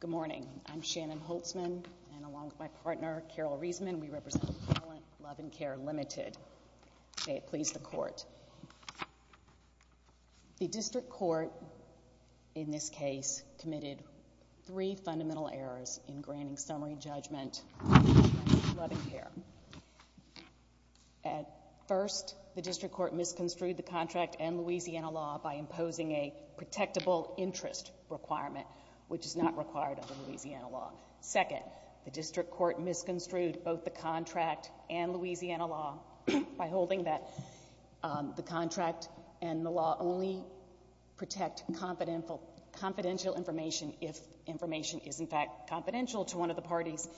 Good morning. I'm Shannon Holtzman, and along with my partner, Carol Reisman, we represent the appellant, Luv N' Care, Limited. May it please the Court. The District Court in this case committed three fundamental errors in granting summary judgment to Luv N' Care. At first, the District Court misconstrued the contract and Louisiana law by imposing a protectable interest requirement, which is not required under Louisiana law. Second, the District Court misconstrued both the contract and Louisiana law by holding that the contract and the law only protect confidential information if information is, in fact, confidential to one of the parties.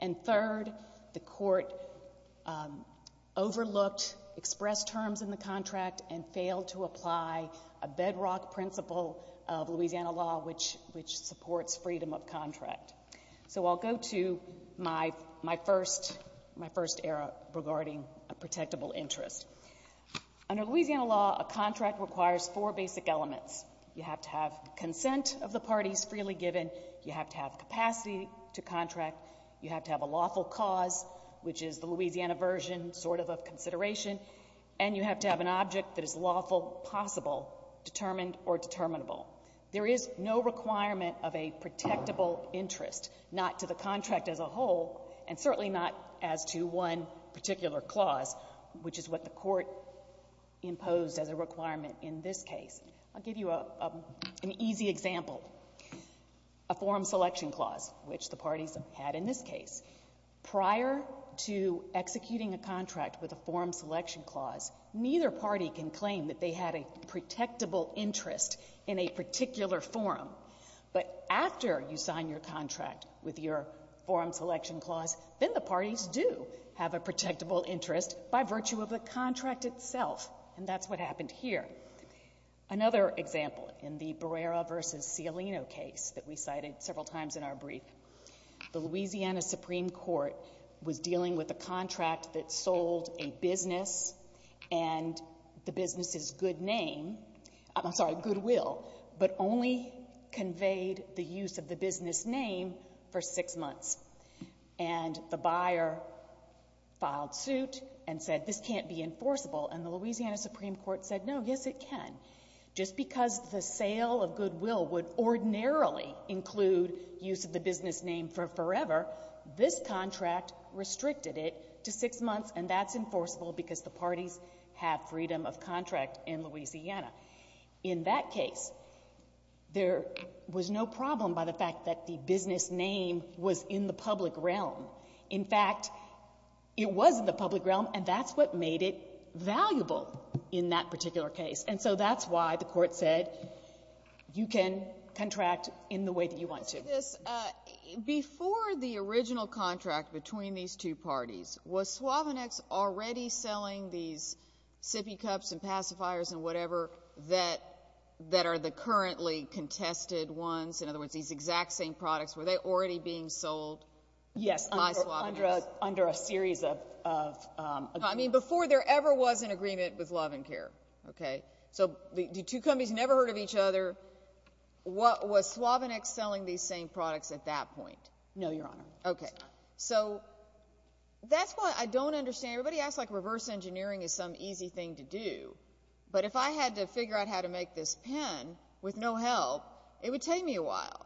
And third, the Court overlooked express terms in the contract and failed to apply a bedrock principle of Louisiana law, which supports freedom of contract. So I'll go to my first error regarding a protectable interest. Under Louisiana law, a contract requires four basic elements. You have to have consent of the parties freely given. You have to have capacity to contract. You have to have a lawful cause, which is the Louisiana version, sort of, of consideration. And you have to have an object that is lawful, possible, determined, or determinable. There is no requirement of a protectable interest, not to the contract as a whole, and certainly not as to one particular clause, which is what the Court imposed as a requirement in this case. I'll give you an easy example. A form selection clause, which the parties have had in this case, prior to executing a contract with a form selection clause, neither party can claim that they had a protectable interest in a particular form. But after you sign your contract with your form selection clause, then the parties do have a protectable interest by virtue of the contract itself, and that's what happened here. Another example, in the Barrera v. Cialino case that we cited several times in our brief, the Louisiana Supreme Court was dealing with a contract that sold a business, and the business's good name, I'm sorry, goodwill, but only conveyed the use of the business name for six months. And the buyer filed suit and said, this can't be enforceable. And the Louisiana Supreme Court said, no, yes, it can. Just because the sale of goodwill would ordinarily include use of the business name for forever, this contract restricted it to six months, and that's enforceable because the parties have freedom of contract in Louisiana. In that case, there was no problem by the fact that the business name was in the public realm. In fact, it was in the public realm, and that's what made it valuable in that particular case. And so that's why the court said, you can contract in the way that you want to. Before the original contract between these two parties, was Suavenex already selling these sippy cups and pacifiers and whatever that are the currently contested ones, in other words, these exact same products, were they already being sold by Suavenex? Yes, under a series of agreements. I mean, before there ever was an agreement with Love and Care, okay? So the two companies never heard of each other. Was Suavenex selling these same products at that point? No, Your Honor. Okay. So that's why I don't understand. Everybody acts like reverse engineering is some easy thing to do, but if I had to figure out how to make this pen with no help, it would take me a while.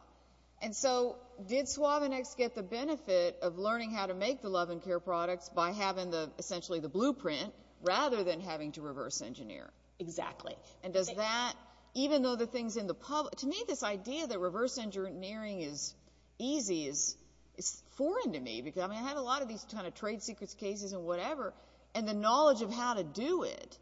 And so did Suavenex get the benefit of learning how to make the Love and Care products by having essentially the blueprint, rather than having to reverse engineer? Exactly. And does that, even though the things in the public, to me this idea that reverse engineering is easy is foreign to me, because I mean, I had a lot of these kind of trade secrets cases and whatever, and the knowledge of how to do it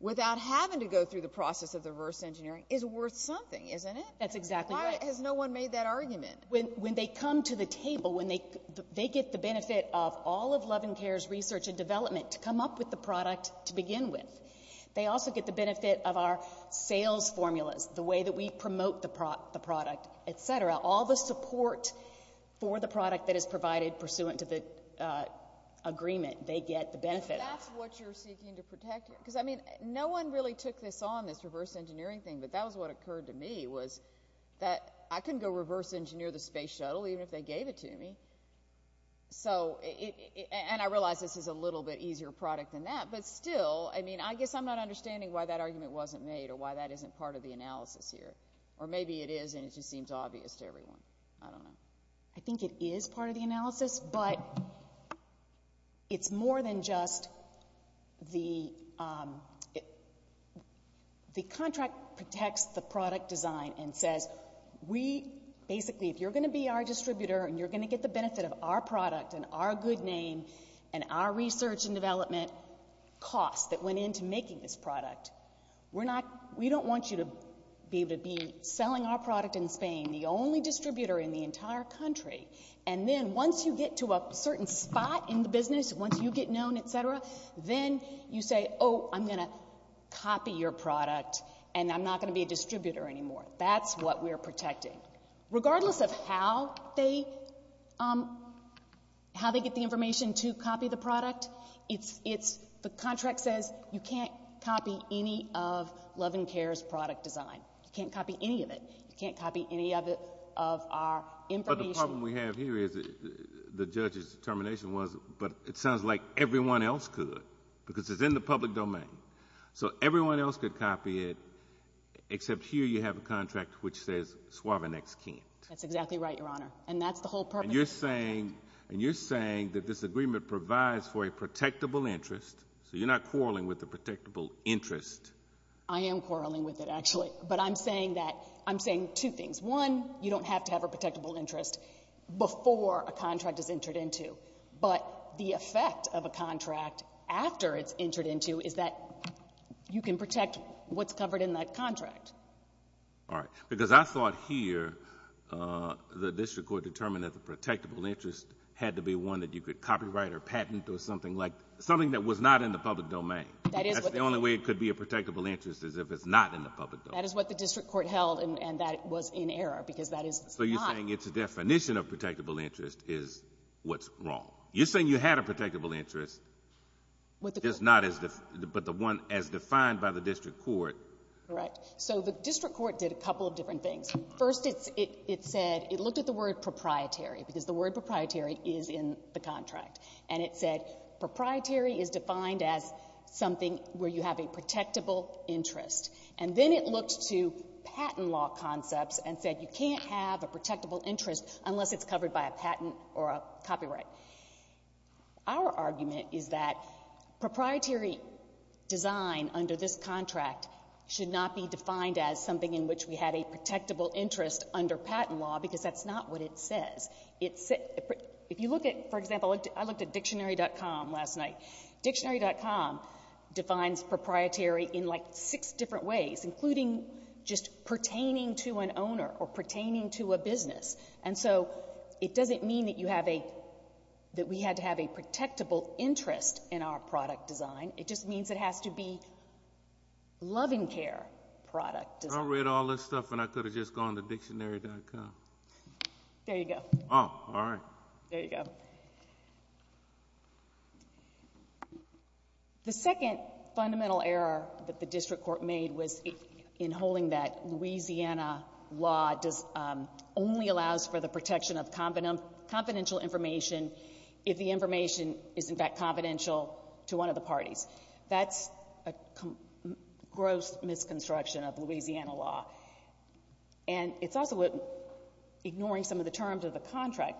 without having to go through the process of the reverse engineering is worth something, isn't it? That's exactly right. Why has no one made that argument? When they come to the table, when they get the benefit of all of Love and Care's research and development to come up with the product to begin with, they also get the benefit of our sales formulas, the way that we promote the product, et cetera. All the support for the product that is provided pursuant to the agreement, they get the benefit of. But that's what you're seeking to protect here? Because I mean, no one really took this on, this reverse engineering thing, but that was what occurred to me, was that I couldn't go reverse engineer the space shuttle, even if they gave it to me. So, and I realize this is a little bit easier product than that, but still, I mean, I guess I'm not understanding why that argument wasn't made or why that isn't part of the analysis here. Or maybe it is and it just seems obvious to everyone. I don't know. I think it is part of the analysis, but it's more than just the contract protects the product design and says, we, basically, if you're going to be our distributor and you're going to get the benefit of our product and our good name and our research and development costs that went into making this product, we're not, we don't want you to be selling our product in Spain, the only distributor in the entire country. And then once you get to a certain spot in the business, once you get known, et cetera, then you say, oh, I'm going to copy your product and I'm not going to be a distributor anymore. That's what we're protecting. Regardless of how they, how they get the information to copy the product, it's, the contract says you can't copy any of Love and Care's product design. You can't copy any of it. You can't copy any of it, of our information. But the problem we have here is the judge's determination was, but it sounds like everyone else could, because it's in the public domain. So everyone else could copy it, except here you have a contract which says Suave Next can't. That's exactly right, Your Honor. And that's the whole purpose of the contract. And you're saying, and you're saying that this agreement provides for a protectable interest, so you're not quarreling with a protectable interest. I am quarreling with it, actually. But I'm saying that, I'm saying two things. One, you don't have to have a protectable interest before a contract is entered into. But the effect of a contract, after it's entered into, is that you can protect what's covered in that contract. All right. Because I thought here the district court determined that the protectable interest had to be one that you could copyright or patent or something like, something that was not in the public domain. That is what the court— That's the only way it could be a protectable interest is if it's not in the public domain. That is what the district court held, and that was in error, because that is not— So you're saying it's a definition of protectable interest is what's wrong. You're saying you had a protectable interest, just not as—but the one as defined by the district court. Correct. So the district court did a couple of different things. First, it said, it looked at the word proprietary, because the word proprietary is in the contract. And it said proprietary is defined as something where you have a protectable interest. And then it looked to patent law concepts and said you can't have a protectable interest unless it's covered by a patent or a copyright. Our argument is that proprietary design under this contract should not be defined as something in which we had a protectable interest under patent law, because that's not what it says. If you look at, for example, I looked at dictionary.com last night. Dictionary.com defines proprietary in like six different ways, including just So it doesn't mean that you have a—that we had to have a protectable interest in our product design. It just means it has to be loving care product design. I read all this stuff, and I could have just gone to dictionary.com. There you go. Oh, all right. There you go. The second fundamental error that the district court made was in holding that Louisiana law only allows for the protection of confidential information if the information is, in fact, confidential to one of the parties. That's a gross misconstruction of Louisiana law. And it's also ignoring some of the terms of the contract,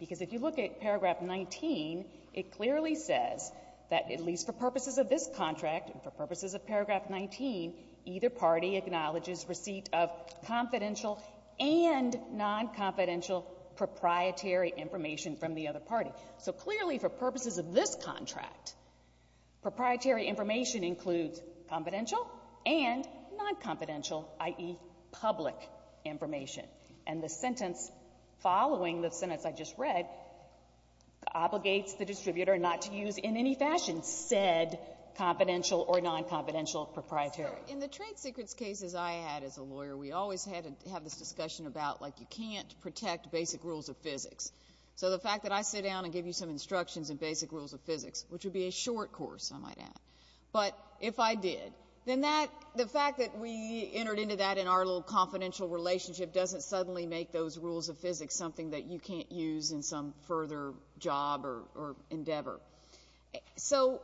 because if you look at paragraph 19, it clearly says that at least for purposes of this contract and for purposes of paragraph 19, either party acknowledges receipt of confidential and non-confidential proprietary information from the other party. So clearly for purposes of this contract, proprietary information includes confidential and non-confidential, i.e., public information. And the sentence following the sentence I just read obligates the distributor not to use in any fashion said confidential or non-confidential proprietary. In the trade secrets cases I had as a lawyer, we always had to have this discussion about, like, you can't protect basic rules of physics. So the fact that I sit down and give you some instructions in basic rules of physics, which would be a short course, I might add, but if I did, then that, the fact that we entered into that in our little confidential relationship doesn't suddenly make those rules of physics something that you can't use in some further job or endeavor. So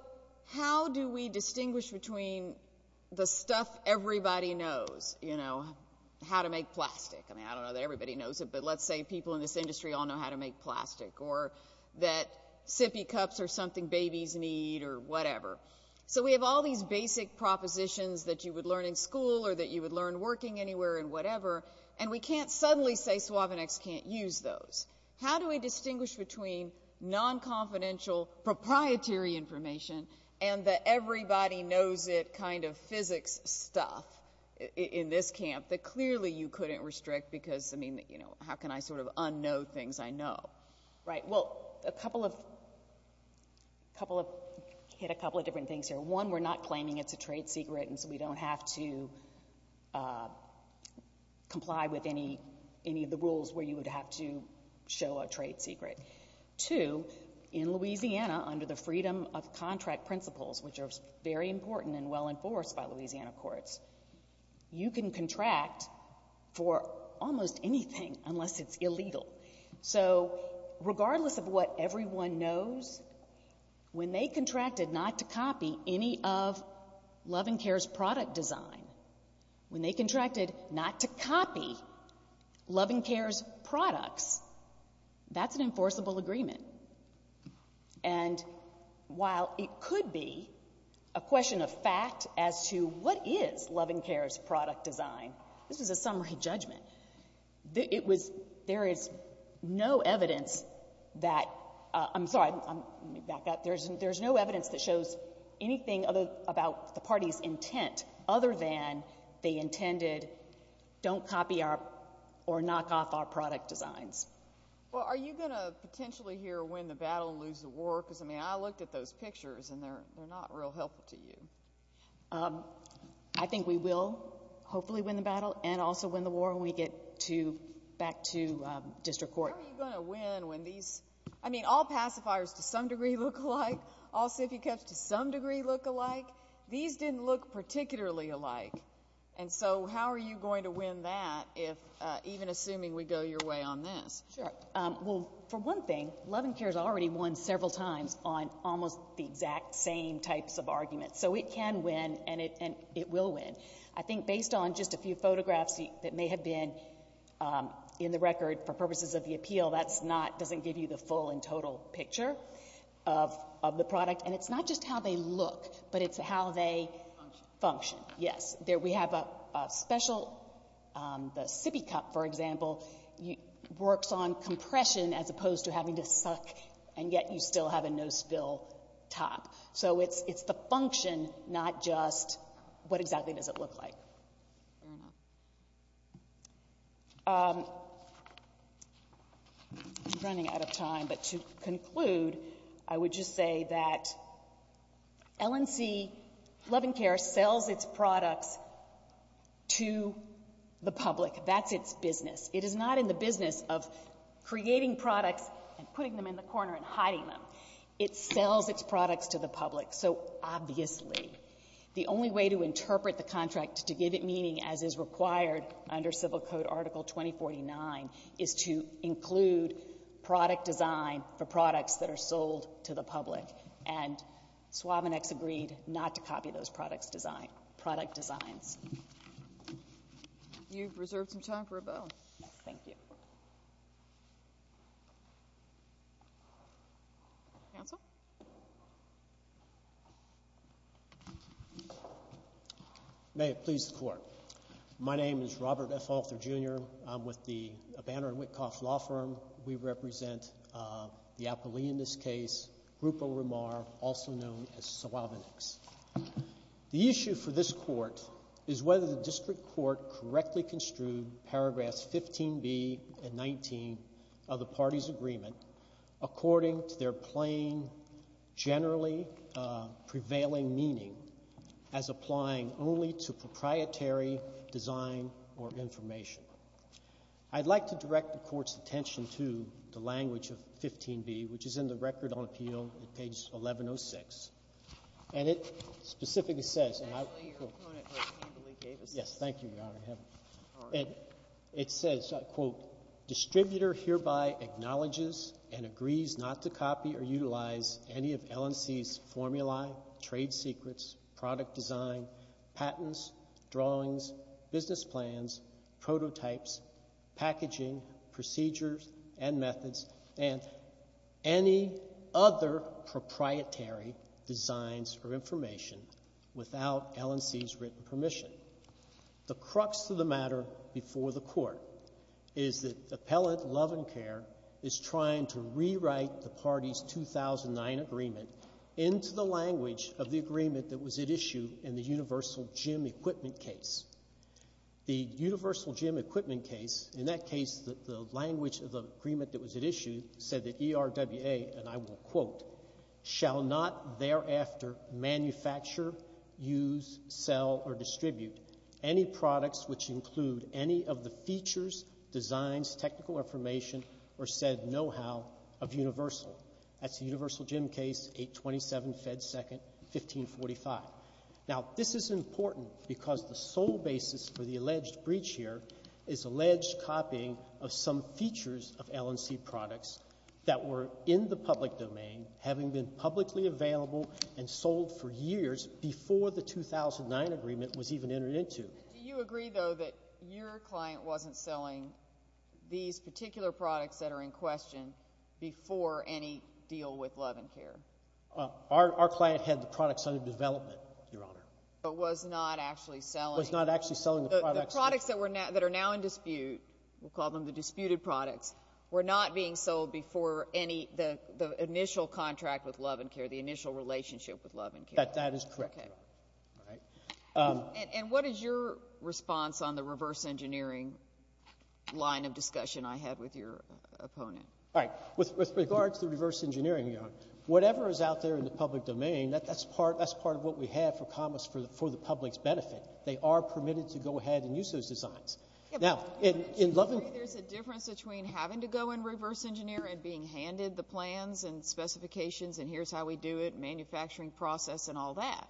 how do we distinguish between the stuff everybody knows, you know, how to make plastic? I mean, I don't know that everybody knows it, but let's say people in this industry all know how to make plastic, or that sippy cups are something babies need or whatever. So we have all these basic propositions that you would learn in school or that you would learn working anywhere and whatever, and we can't suddenly say Suavenex can't use those. How do we distinguish between non-confidential proprietary information and the everybody knows it kind of physics stuff in this camp that clearly you couldn't restrict because, I mean, you know, how can I sort of unknow things I know? Right. Well, a couple of, hit a couple of different things here. One, we're not claiming it's a trade secret, and so we don't have to comply with any of the rules where you would have to show a trade secret. Two, in Louisiana, under the freedom of contract principles, which are very important and well enforced by Louisiana courts, you can contract for almost anything unless it's illegal. So regardless of what everyone knows, when they contracted not to copy any of Love and Care's product design, when they contracted not to copy Love and Care's products, that's an enforceable agreement. And while it could be a question of fact as to what is Love and Care's product design, this is a summary judgment. It was, there is no evidence that, I'm sorry, let me back up, there's no evidence that shows anything about the party's intent other than they intended, don't copy our, or knock off our product designs. Well, are you going to potentially here win the battle and lose the war? Because, I mean, I looked at those pictures and they're not real helpful to you. I think we will hopefully win the battle and also win the war when we get to, back to district court. How are you going to win when these, I mean, all pacifiers to some degree look alike, all sippy cups to some degree look alike. These didn't look particularly alike. And so how are you going to win that if, even assuming we go your way on this? Sure. Well, for one thing, Love and Care's already won several times on almost the exact same types of arguments. So it can win and it will win. I think based on just a few photographs that may have been in the record for purposes of the appeal, that's not, doesn't give you the full and total picture of the product. And it's not just how they look, but it's how they function. Yes. There we have a special, the sippy cup, for example, works on compression as opposed to having to suck and yet you still have a no spill top. So it's the function, not just what exactly does it look like. I'm running out of time, but to conclude, I would just say that LNC, Love and Care, sells its products to the public. That's its business. It is not in the business of creating products and putting them in the corner and hiding them. It sells its products to the public. So obviously, the only way to interpret the contract to give it meaning, as is required under Civil Code Article 2049, is to include product design for products that are sold to the public. And Suavonex agreed not to copy those product designs. You've reserved some time for a bow. Thank you. May it please the Court. My name is Robert F. Alter, Jr. I'm with the Banner and Wittkoff Law Firm. We represent the appellee in this case, Rupa Ramar, also known as Suavonex. The issue for this Court is whether the district court correctly construed paragraphs 15B and 19 of the party's agreement according to their plain, generally prevailing meaning as applying only to proprietary design or information. I'd like to direct the Court's attention to the language of 15B, which is in the Record on Appeal at page 1106. And it specifically says, and I will quote. Yes, thank you, Your Honor. It says, quote, distributor hereby acknowledges and agrees not to copy or utilize any of LNC's formulae, trade secrets, product design, patents, drawings, business plans, prototypes, packaging, procedures, and methods, and any other proprietary designs or information without LNC's written permission. The crux of the matter before the Court is that Appellant Lovencare is trying to rewrite the party's 2009 agreement into the language of the agreement that was at issue in the Universal Gym Equipment case. The Universal Gym Equipment case, in that case, the language of the agreement that was at issue said that ERWA, and I will quote, shall not thereafter manufacture, use, sell, or distribute any products which include any of the features, designs, technical information, or said know-how of Universal. That's the Universal Gym case, 827 Fed 2nd, 1545. Now, this is important because the sole basis for the alleged breach here is alleged copying of some features of LNC products that were in the public domain, having been publicly available and sold for years before the 2009 agreement was even entered into. Do you agree, though, that your client wasn't selling these particular products that are in question before any deal with Lovencare? Our client had the products under development, Your Honor. But was not actually selling? Was not actually selling the products. The products that are now in dispute, we'll call them the disputed products, were not being sold before the initial contract with Lovencare, the initial relationship with Lovencare? That is correct, Your Honor. And what is your response on the reverse engineering line of discussion I had with your opponent? All right. With regard to the reverse engineering, Your Honor, whatever is out there in the public domain, that's part of what we have for commerce for the public's benefit. They are permitted to go ahead and use those designs. Now, in Lovencare — There's a difference between having to go and reverse engineer and being handed the plans and specifications and here's how we do it, manufacturing process and all that.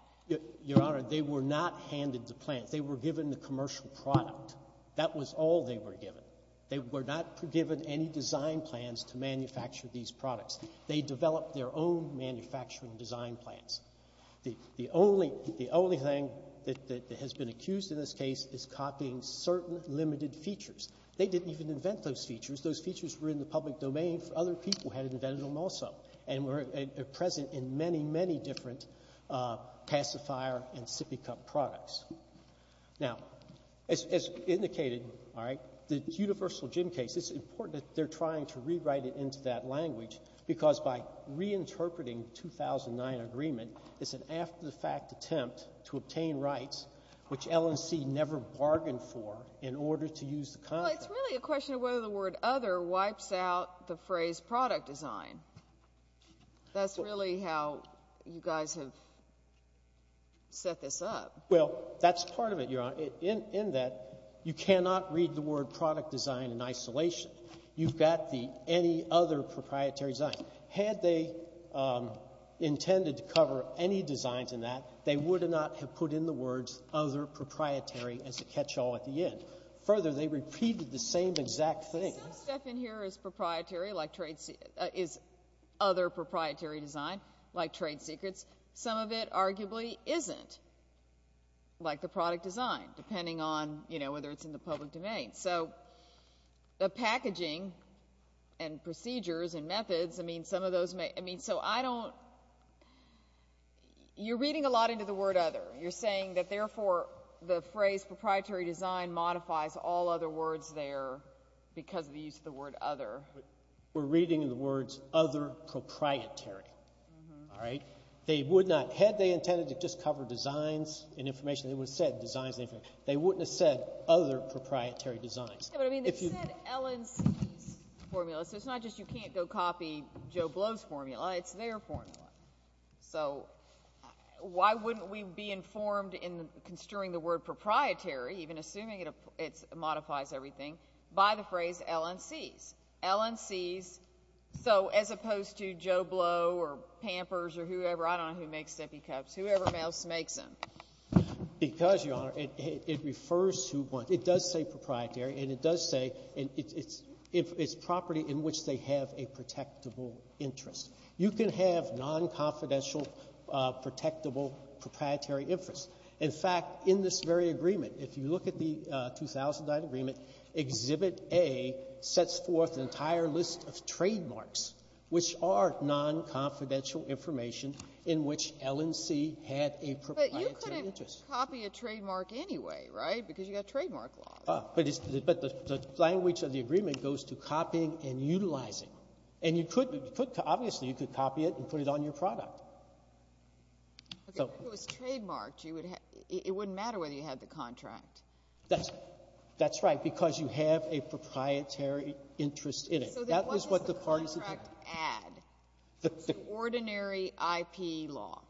Your Honor, they were not handed the plans. They were given the commercial product. That was all they were given. They were not given any design plans to manufacture these products. They developed their own manufacturing design plans. The only thing that has been accused in this case is copying certain limited features. They didn't even invent those features. Those features were in the public domain for other people who had invented them also and were present in many, many different pacifier and sippy cup products. Now, as indicated, all right, the Universal Gym case, it's important that they're trying to rewrite it into that language because by reinterpreting 2009 agreement, it's an after-the-fact attempt to obtain rights which L&C never bargained for in order to use the contract. Well, it's really a question of whether the word other wipes out the phrase product design. That's really how you guys have set this up. Well, that's part of it, Your Honor, in that you cannot read the word product design in isolation. You've got the any other proprietary design. Had they intended to cover any designs in that, they would not have put in the words other proprietary as a catch-all at the end. Further, they repeated the same exact thing. Some stuff in here is other proprietary design like trade secrets. Some of it arguably isn't, like the product design, depending on, you know, whether it's in the public domain. So the packaging and procedures and methods, I mean, some of those may, I mean, so I don't, you're reading a lot into the word other. You're saying that, therefore, the phrase proprietary design modifies all other words there because of the use of the word other. We're reading in the words other proprietary, all right? They would not. Had they intended to just cover designs and information, they would have said designs. They wouldn't have said other proprietary designs. Yeah, but, I mean, they said L&C's formula, so it's not just you can't go copy Joe Blow's formula. It's their formula. So why wouldn't we be informed in construing the word proprietary, even assuming it modifies everything, by the phrase L&C's? L&C's. So as opposed to Joe Blow or Pampers or whoever. I don't know who makes sippy cups. Whoever else makes them. Because, Your Honor, it refers to one. It does say proprietary, and it does say it's property in which they have a protectable interest. You can have nonconfidential protectable proprietary interest. In fact, in this very agreement, if you look at the 2009 agreement, Exhibit A sets forth an entire list of trademarks, which are nonconfidential information in which L&C had a proprietary interest. But you couldn't copy a trademark anyway, right, because you've got trademark laws. But the language of the agreement goes to copying and utilizing. And you could, obviously, you could copy it and put it on your product. If it was trademarked, it wouldn't matter whether you had the contract. That's right. Because you have a proprietary interest in it. So what does the contract add to ordinary IP law?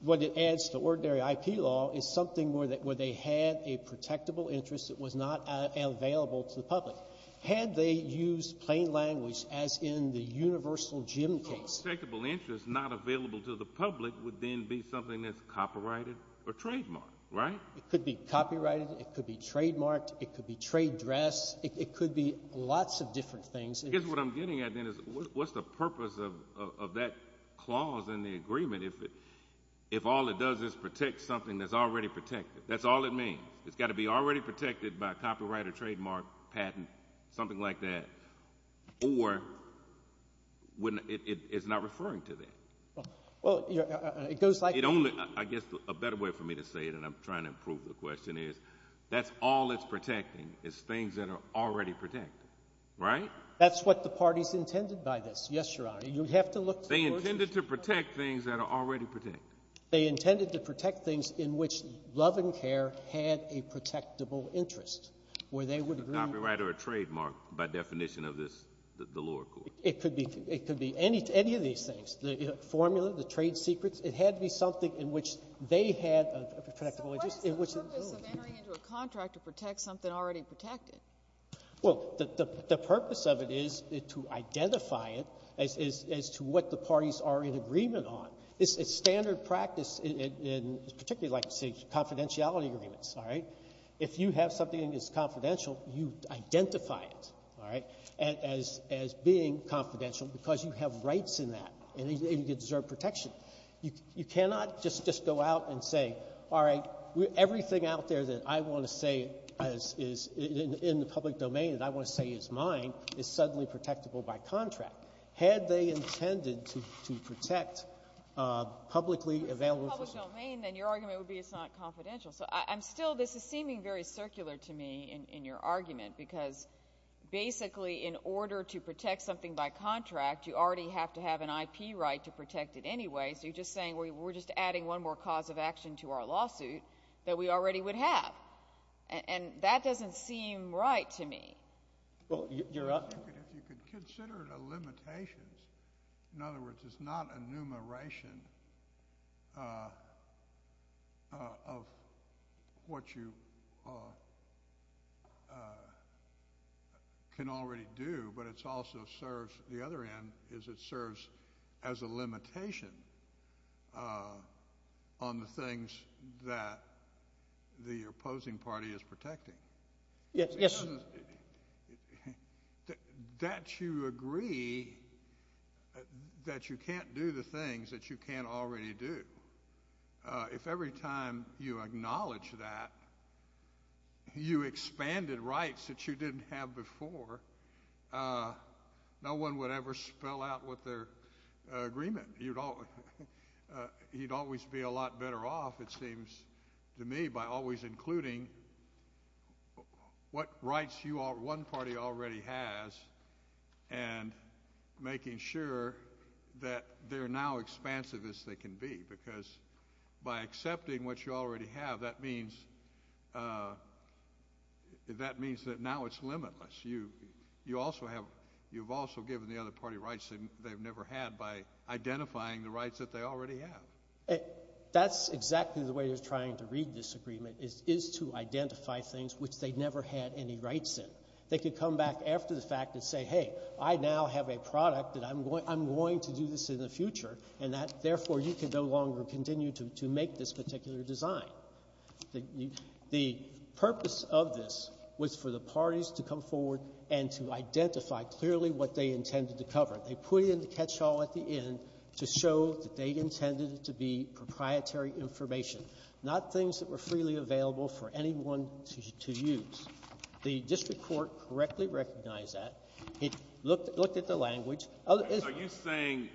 What it adds to ordinary IP law is something where they had a protectable interest that was not available to the public. Had they used plain language, as in the Universal Gym case — So a protectable interest not available to the public would then be something that's copyrighted or trademarked, right? It could be copyrighted. It could be trademarked. It could be trade dress. It could be lots of different things. I guess what I'm getting at then is what's the purpose of that clause in the agreement if all it does is protect something that's already protected? That's all it means. It's got to be already protected by copyright or trademark, patent, something like that, or it's not referring to that. Well, it goes like — It only — I guess a better way for me to say it, and I'm trying to prove the question, is that all it's protecting is things that are already protected, right? That's what the parties intended by this, yes, Your Honor. You have to look to the courts. They intended to protect things that are already protected. They intended to protect things in which love and care had a protectable interest, where they would agree — Copyright or trademark, by definition of this, the lower court. It could be any of these things, the formula, the trade secrets. It had to be something in which they had a protectable interest. So what is the purpose of entering into a contract to protect something already protected? Well, the purpose of it is to identify it as to what the parties are in agreement on. It's standard practice in particularly, like I say, confidentiality agreements, all right? If you have something that is confidential, you identify it, all right, as being confidential because you have rights in that, and you deserve protection. You cannot just go out and say, all right, everything out there that I want to say is in the public domain that I want to say is mine is suddenly protectable by contract. Had they intended to protect publicly available — Well, if it's in the public domain, then your argument would be it's not confidential. So I'm still — this is seeming very circular to me in your argument because basically in order to protect something by contract, you already have to have an IP right to just saying we're just adding one more cause of action to our lawsuit that we already would have. And that doesn't seem right to me. Well, you're — If you could consider it a limitation. In other words, it's not enumeration of what you can already do, but it also serves — on the things that the opposing party is protecting. Yes. That you agree that you can't do the things that you can't already do. If every time you acknowledge that, you expanded rights that you didn't have before, no one would ever spell out what their agreement. You'd always be a lot better off, it seems to me, by always including what rights one party already has and making sure that they're now expansive as they can be. Because by accepting what you already have, that means that now it's limitless. You've also given the other party rights they've never had by identifying the rights that they already have. That's exactly the way they're trying to read this agreement, is to identify things which they never had any rights in. They could come back after the fact and say, hey, I now have a product and I'm going to do this in the future, and therefore you can no longer continue to make this particular design. The purpose of this was for the parties to come forward and to identify clearly what they intended to cover. They put it in the catchall at the end to show that they intended it to be proprietary information, not things that were freely available for anyone to use. The district court correctly recognized that. It looked at the language. Are you saying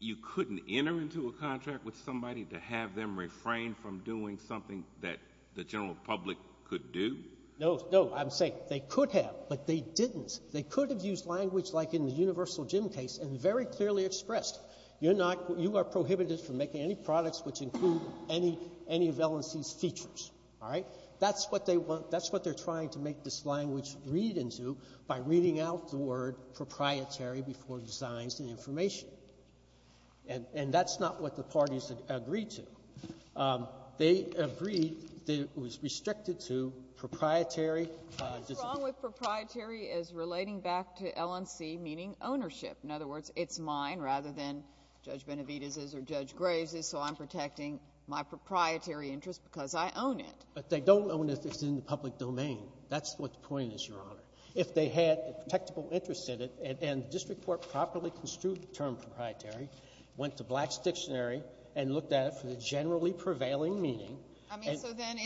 you couldn't enter into a contract with somebody to have them refrain from doing something that the general public could do? No, I'm saying they could have, but they didn't. They could have used language like in the Universal Gym case and very clearly expressed, you are prohibited from making any products which include any of L&C's features. All right? That's what they want. That's what they're trying to make this language read into by reading out the word proprietary before designs and information. And that's not what the parties agreed to. They agreed that it was restricted to proprietary. What's wrong with proprietary is relating back to L&C, meaning ownership. In other words, it's mine rather than Judge Benavidez's or Judge Graves's, so I'm protecting my proprietary interest because I own it. But they don't own it if it's in the public domain. That's what the point is, Your Honor. If they had a protectable interest in it and the district court properly construed the term proprietary, went to Black's dictionary and looked at it for the generally prevailing meaning. I mean, so then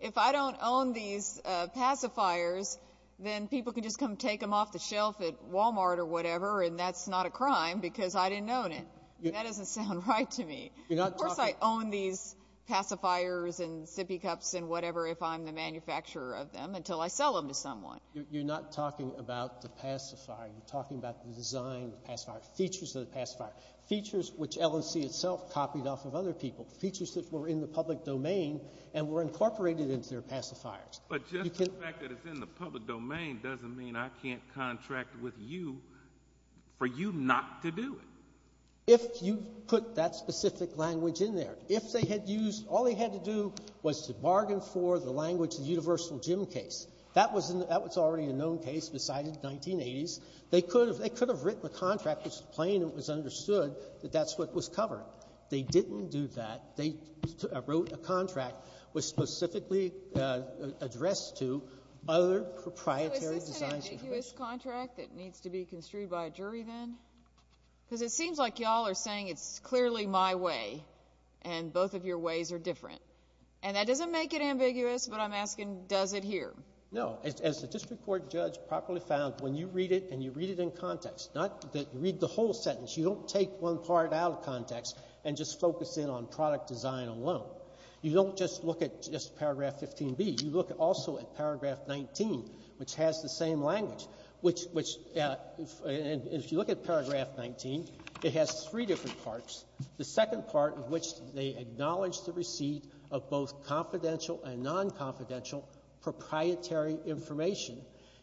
if I don't own these pacifiers, then people can just come take them off the shelf at Walmart or whatever and that's not a crime because I didn't own it. That doesn't sound right to me. Of course I own these pacifiers and sippy cups and whatever if I'm the manufacturer of them until I sell them to someone. You're not talking about the pacifier. You're talking about the design of the pacifier, features of the pacifier, features which L&C itself copied off of other people, features that were in the public domain and were incorporated into their pacifiers. But just the fact that it's in the public domain doesn't mean I can't contract with you for you not to do it. If you put that specific language in there, if they had used, all they had to do was to bargain for the language, the universal gym case. That was already a known case besides the 1980s. They could have written a contract which was plain and was understood that that's what was covered. They didn't do that. They wrote a contract which specifically addressed to other proprietary designs. So is this an ambiguous contract that needs to be construed by a jury then? Because it seems like you all are saying it's clearly my way and both of your ways are different. And that doesn't make it ambiguous, but I'm asking does it here? No. As the district court judge properly found, when you read it and you read it in context, not that you read the whole sentence, you don't take one part out of context and just focus in on product design alone. You don't just look at just paragraph 15B. You look also at paragraph 19, which has the same language, which if you look at paragraph 19, it has three different parts. The second part of which they acknowledge the receipt of both confidential and non-confidential proprietary information.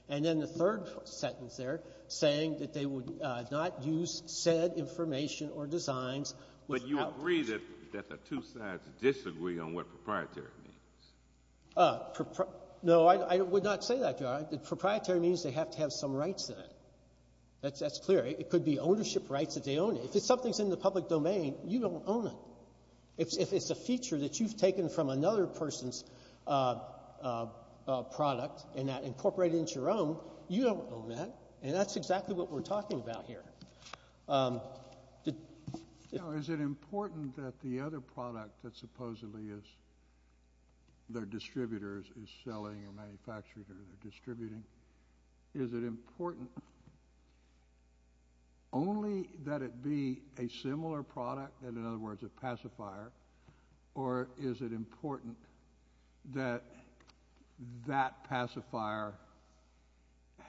And then the third sentence there saying that they would not use said information or designs without reason. But you agree that the two sides disagree on what proprietary means? No, I would not say that, Your Honor. Proprietary means they have to have some rights in it. That's clear. It could be ownership rights if they own it. If something's in the public domain, you don't own it. If it's a feature that you've taken from another person's product and that incorporated into your own, you don't own that, and that's exactly what we're talking about here. Now, is it important that the other product that supposedly is their distributor is selling or manufacturing or distributing? Is it important only that it be a similar product, and in other words, a pacifier, or is it important that that pacifier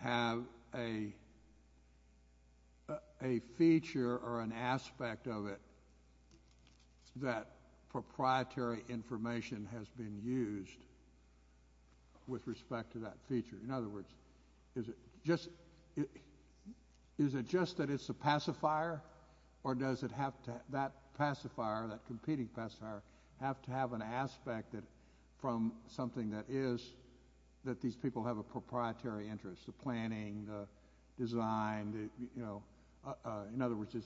have a feature or an aspect of it that proprietary information has been used with respect to that feature? In other words, is it just that it's a pacifier, or does that pacifier, that competing pacifier, have to have an aspect from something that is that these people have a proprietary interest, the planning, the design? In other words,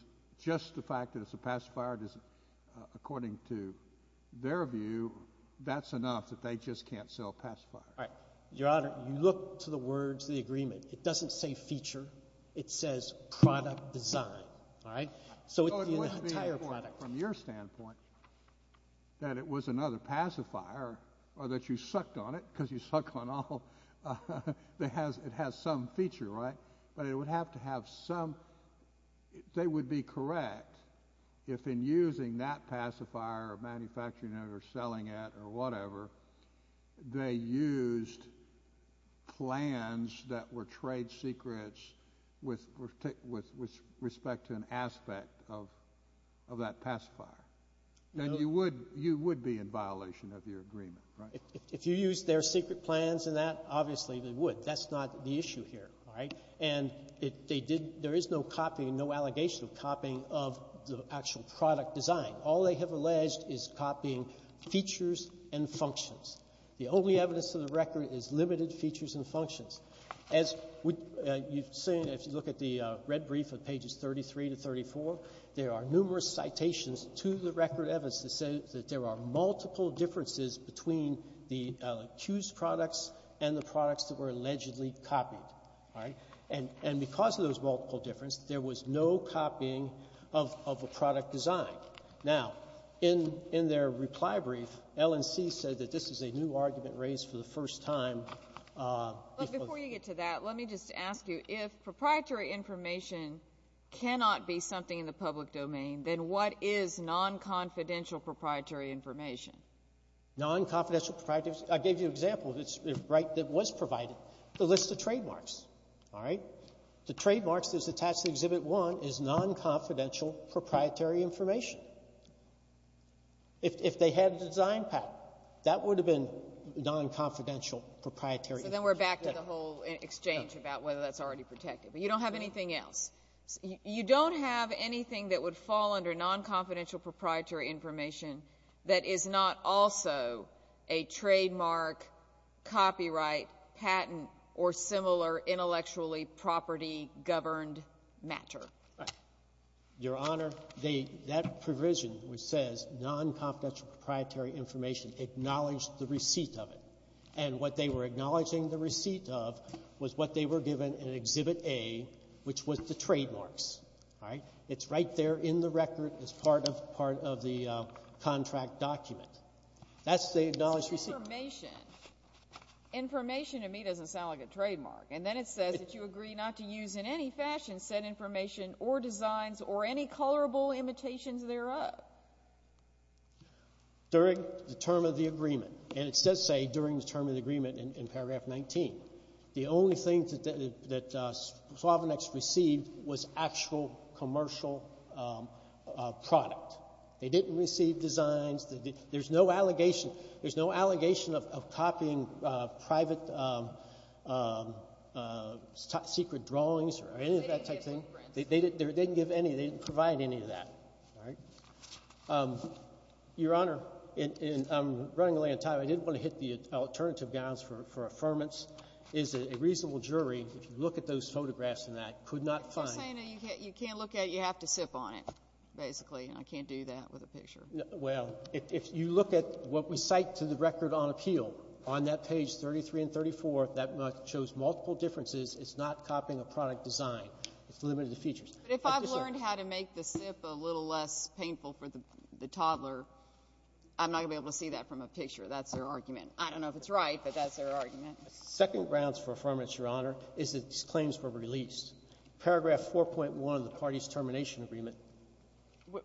just the fact that it's a pacifier, according to their view, that's enough that they just can't sell a pacifier. All right. Your Honor, you look to the words of the agreement. It doesn't say feature. It says product design. All right? So it would be an entire product. So it would be, from your standpoint, that it was another pacifier or that you sucked on it because you suck on all. It has some feature, right? But it would have to have some – they would be correct if in using that pacifier or manufacturing it or selling it or whatever, they used plans that were trade secrets with respect to an aspect of that pacifier. Then you would be in violation of your agreement, right? If you use their secret plans and that, obviously they would. That's not the issue here. All right? And they did – there is no copying, no allegation of copying of the actual product design. All they have alleged is copying features and functions. The only evidence of the record is limited features and functions. As you've seen, if you look at the red brief of pages 33 to 34, there are numerous citations to the record evidence that say that there are multiple differences between the accused products and the products that were allegedly copied. All right? And because of those multiple differences, there was no copying of a product design. Now, in their reply brief, L&C said that this is a new argument raised for the first time. But before you get to that, let me just ask you, if proprietary information cannot be something in the public domain, then what is non-confidential proprietary information? Non-confidential proprietary – I gave you an example that was provided, the list of trademarks. All right? The trademarks that's attached to Exhibit 1 is non-confidential proprietary information. If they had a design pattern, that would have been non-confidential proprietary information. So then we're back to the whole exchange about whether that's already protected. But you don't have anything else. You don't have anything that would fall under non-confidential proprietary information that is not also a trademark, copyright, patent, or similar intellectually property-governed matter. Right. Your Honor, that provision which says non-confidential proprietary information acknowledged the receipt of it. And what they were acknowledging the receipt of was what they were given in Exhibit A, which was the trademarks. All right? It's right there in the record as part of the contract document. That's the acknowledged receipt. Information. Information to me doesn't sound like a trademark. And then it says that you agree not to use in any fashion said information or designs or any colorable imitations thereof. During the term of the agreement. And it does say during the term of the agreement in Paragraph 19. The only thing that Swavonex received was actual commercial product. They didn't receive designs. There's no allegation of copying private secret drawings or any of that type of thing. They didn't give any. They didn't provide any of that. All right? Your Honor, I'm running late on time. I didn't want to hit the alternative guidance for affirmance. As a reasonable jury, if you look at those photographs and that, could not find. You can't look at it. You have to sip on it, basically. And I can't do that with a picture. Well, if you look at what we cite to the record on appeal, on that page 33 and 34, that shows multiple differences. It's not copying a product design. It's limited to features. But if I've learned how to make the sip a little less painful for the toddler, I'm not going to be able to see that from a picture. That's their argument. I don't know if it's right, but that's their argument. Second grounds for affirmance, Your Honor, is that these claims were released. Paragraph 4.1 of the party's termination agreement.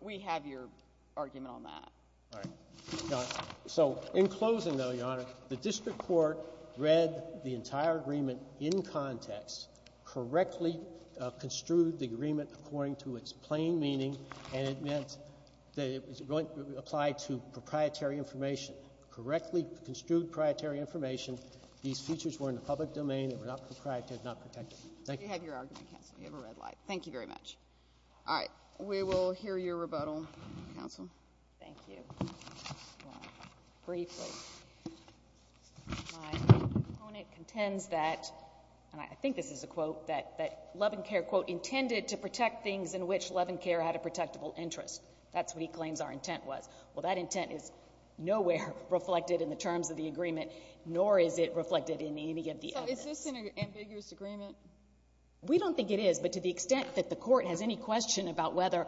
We have your argument on that. All right. So in closing, though, Your Honor, the district court read the entire agreement in context, correctly construed the agreement according to its plain meaning, and it meant that it was going to apply to proprietary information. Correctly construed proprietary information. These features were in the public domain. They were not proprietary. They were not protected. Thank you. You have your argument, counsel. You have a red light. Thank you very much. All right. We will hear your rebuttal, counsel. Thank you. Briefly. My opponent contends that, and I think this is a quote, that Levincare, quote, intended to protect things in which Levincare had a protectable interest. That's what he claims our intent was. Well, that intent is nowhere reflected in the terms of the agreement, nor is it reflected in any of the evidence. So is this an ambiguous agreement? We don't think it is, but to the extent that the Court has any question about whether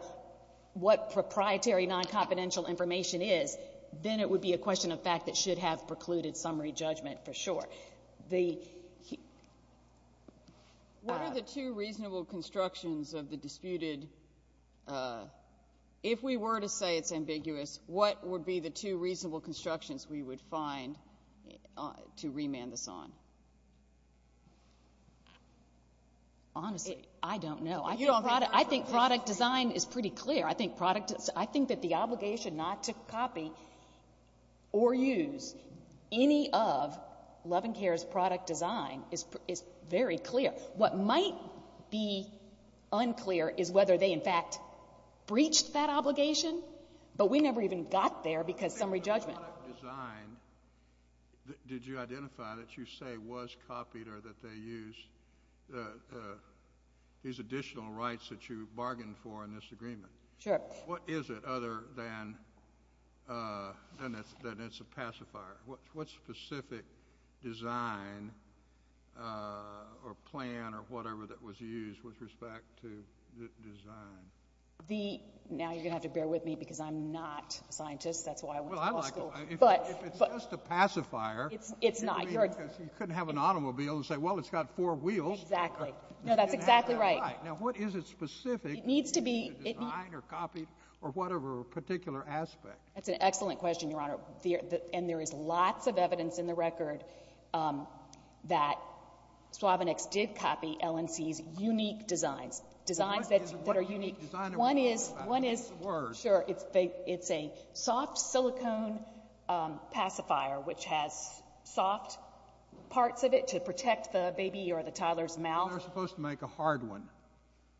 what proprietary non-confidential information is, then it would be a question of fact that should have precluded summary judgment for sure. What are the two reasonable constructions of the disputed? If we were to say it's ambiguous, what would be the two reasonable constructions we would find to remand this on? Honestly, I don't know. I think product design is pretty clear. I think that the obligation not to copy or use any of Levincare's product design is very clear. What might be unclear is whether they, in fact, breached that obligation, but we never even got there because summary judgment. The product design, did you identify that you say was copied or that they used these additional rights that you bargained for in this agreement? Sure. What is it other than it's a pacifier? What specific design or plan or whatever that was used with respect to design? Now you're going to have to bear with me because I'm not a scientist. That's why I went to law school. If it's just a pacifier. It's not. You couldn't have an automobile and say, well, it's got four wheels. Exactly. No, that's exactly right. Now what is it specific to design or copy or whatever particular aspect? That's an excellent question, Your Honor. And there is lots of evidence in the record that Swavonex did copy LNC's unique designs, designs that are unique. Sure. It's a soft silicone pacifier which has soft parts of it to protect the baby or the toddler's mouth. They're supposed to make a hard one.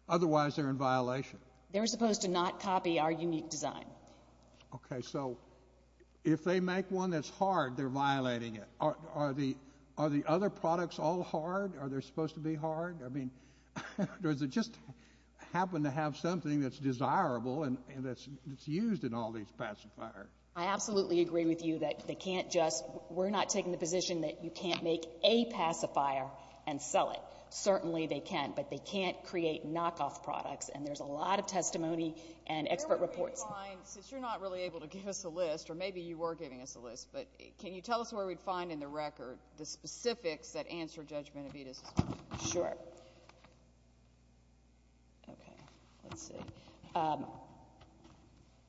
Otherwise, they're in violation. They're supposed to not copy our unique design. Okay. So if they make one that's hard, they're violating it. Are the other products all hard? Are they supposed to be hard? I mean, does it just happen to have something that's desirable and that's used in all these pacifiers? I absolutely agree with you that they can't just we're not taking the position that you can't make a pacifier and sell it. Certainly they can, but they can't create knockoff products, and there's a lot of testimony and expert reports. Since you're not really able to give us a list, or maybe you were giving us a list, but can you tell us where we'd find in the record the specifics that answer Judge Benavidez's question? Sure. Okay. Let's see.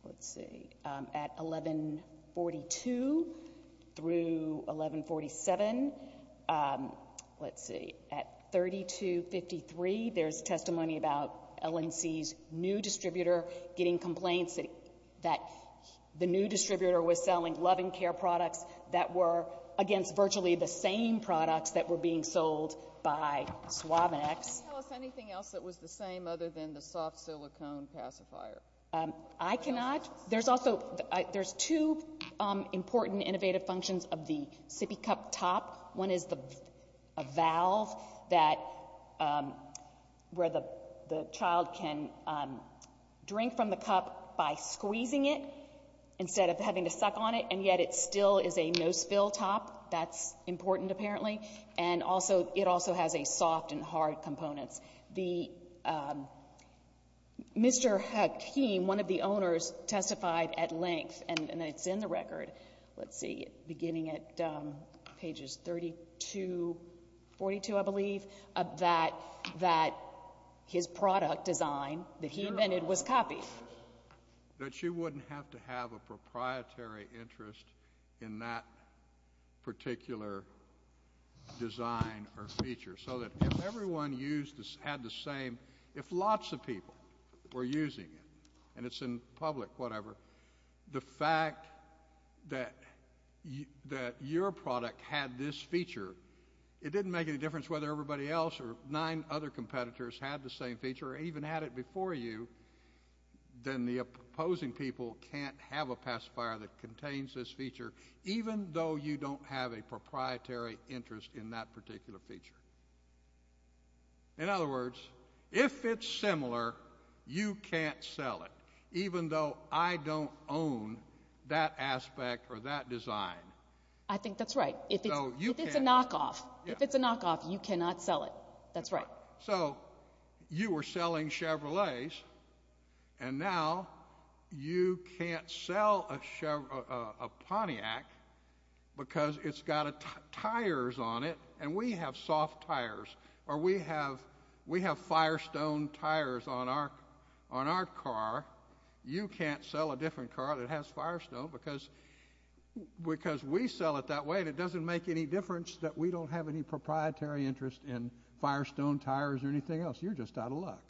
Let's see. At 1142 through 1147. Let's see. At 3253, there's testimony about L&C's new distributor getting complaints that the new distributor was selling that were against virtually the same products that were being sold by Suavex. Can you tell us anything else that was the same other than the soft silicone pacifier? I cannot. There's also there's two important innovative functions of the sippy cup top. One is the valve that where the child can drink from the cup by squeezing it instead of having to suck on it, and yet it still is a nose fill top. That's important, apparently. And also it also has a soft and hard components. The Mr. Hakim, one of the owners, testified at length, and it's in the record. Let's see, beginning at pages 32, 42, I believe, that his product design that he invented was copied. That you wouldn't have to have a proprietary interest in that particular design or feature. So that if everyone had the same, if lots of people were using it, and it's in public, whatever, the fact that your product had this feature, it didn't make any difference whether everybody else or nine other competitors had the same feature or even had it before you, then the opposing people can't have a pacifier that contains this feature, even though you don't have a proprietary interest in that particular feature. In other words, if it's similar, you can't sell it, even though I don't own that aspect or that design. I think that's right. If it's a knockoff, you cannot sell it. That's right. So you were selling Chevrolets, and now you can't sell a Pontiac because it's got tires on it, and we have soft tires, or we have Firestone tires on our car. You can't sell a different car that has Firestone because we sell it that way, and it doesn't make any difference that we don't have any proprietary interest in Firestone tires or anything else. You're just out of luck.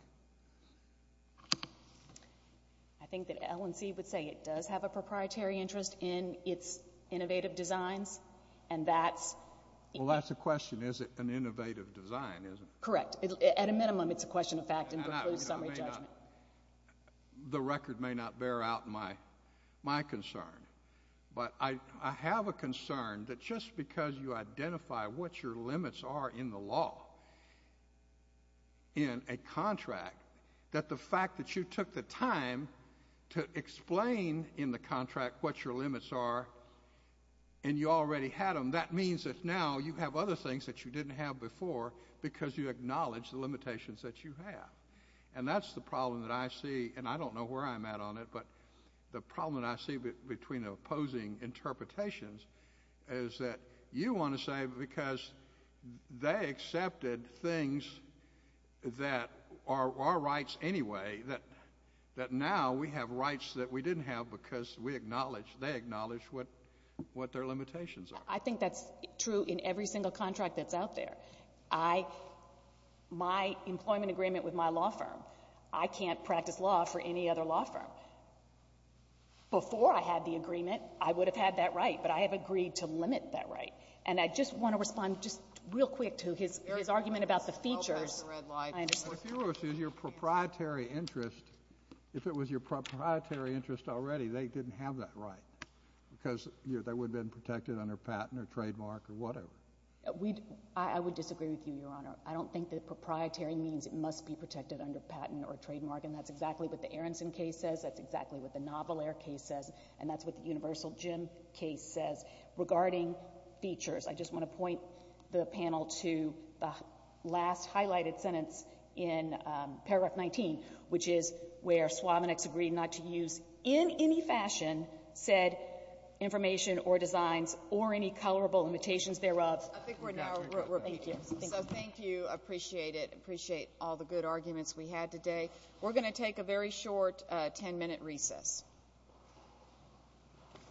I think that L&C would say it does have a proprietary interest in its innovative designs, and that's... Well, that's a question. Is it an innovative design? Correct. At a minimum, it's a question of fact and precludes summary judgment. The record may not bear out my concern, but I have a concern that just because you identify what your limits are in the law in a contract, that the fact that you took the time to explain in the contract what your limits are, and you already had them, that means that now you have other things that you didn't have before because you acknowledge the limitations that you have, and that's the problem that I see, and I don't know where I'm at on it, but the problem that I see between the opposing interpretations is that you want to say because they accepted things that are our rights anyway, that now we have rights that we didn't have because they acknowledge what their limitations are. I think that's true in every single contract that's out there. My employment agreement with my law firm, I can't practice law for any other law firm. Before I had the agreement, I would have had that right, but I have agreed to limit that right, and I just want to respond just real quick to his argument about the features. If it was your proprietary interest already, they didn't have that right because that would have been protected under patent or trademark or whatever. I would disagree with you, Your Honor. I don't think that proprietary means it must be protected under patent or trademark, and that's exactly what the Aronson case says. That's exactly what the Naval Air case says, and that's what the Universal Gym case says regarding features. I just want to point the panel to the last highlighted sentence in Paragraph 19, which is where Swavonex agreed not to use in any fashion said information or designs or any colorable limitations thereof. I think we're now repeating. So thank you. Appreciate it. Appreciate all the good arguments we had today. We're going to take a very short 10-minute recess.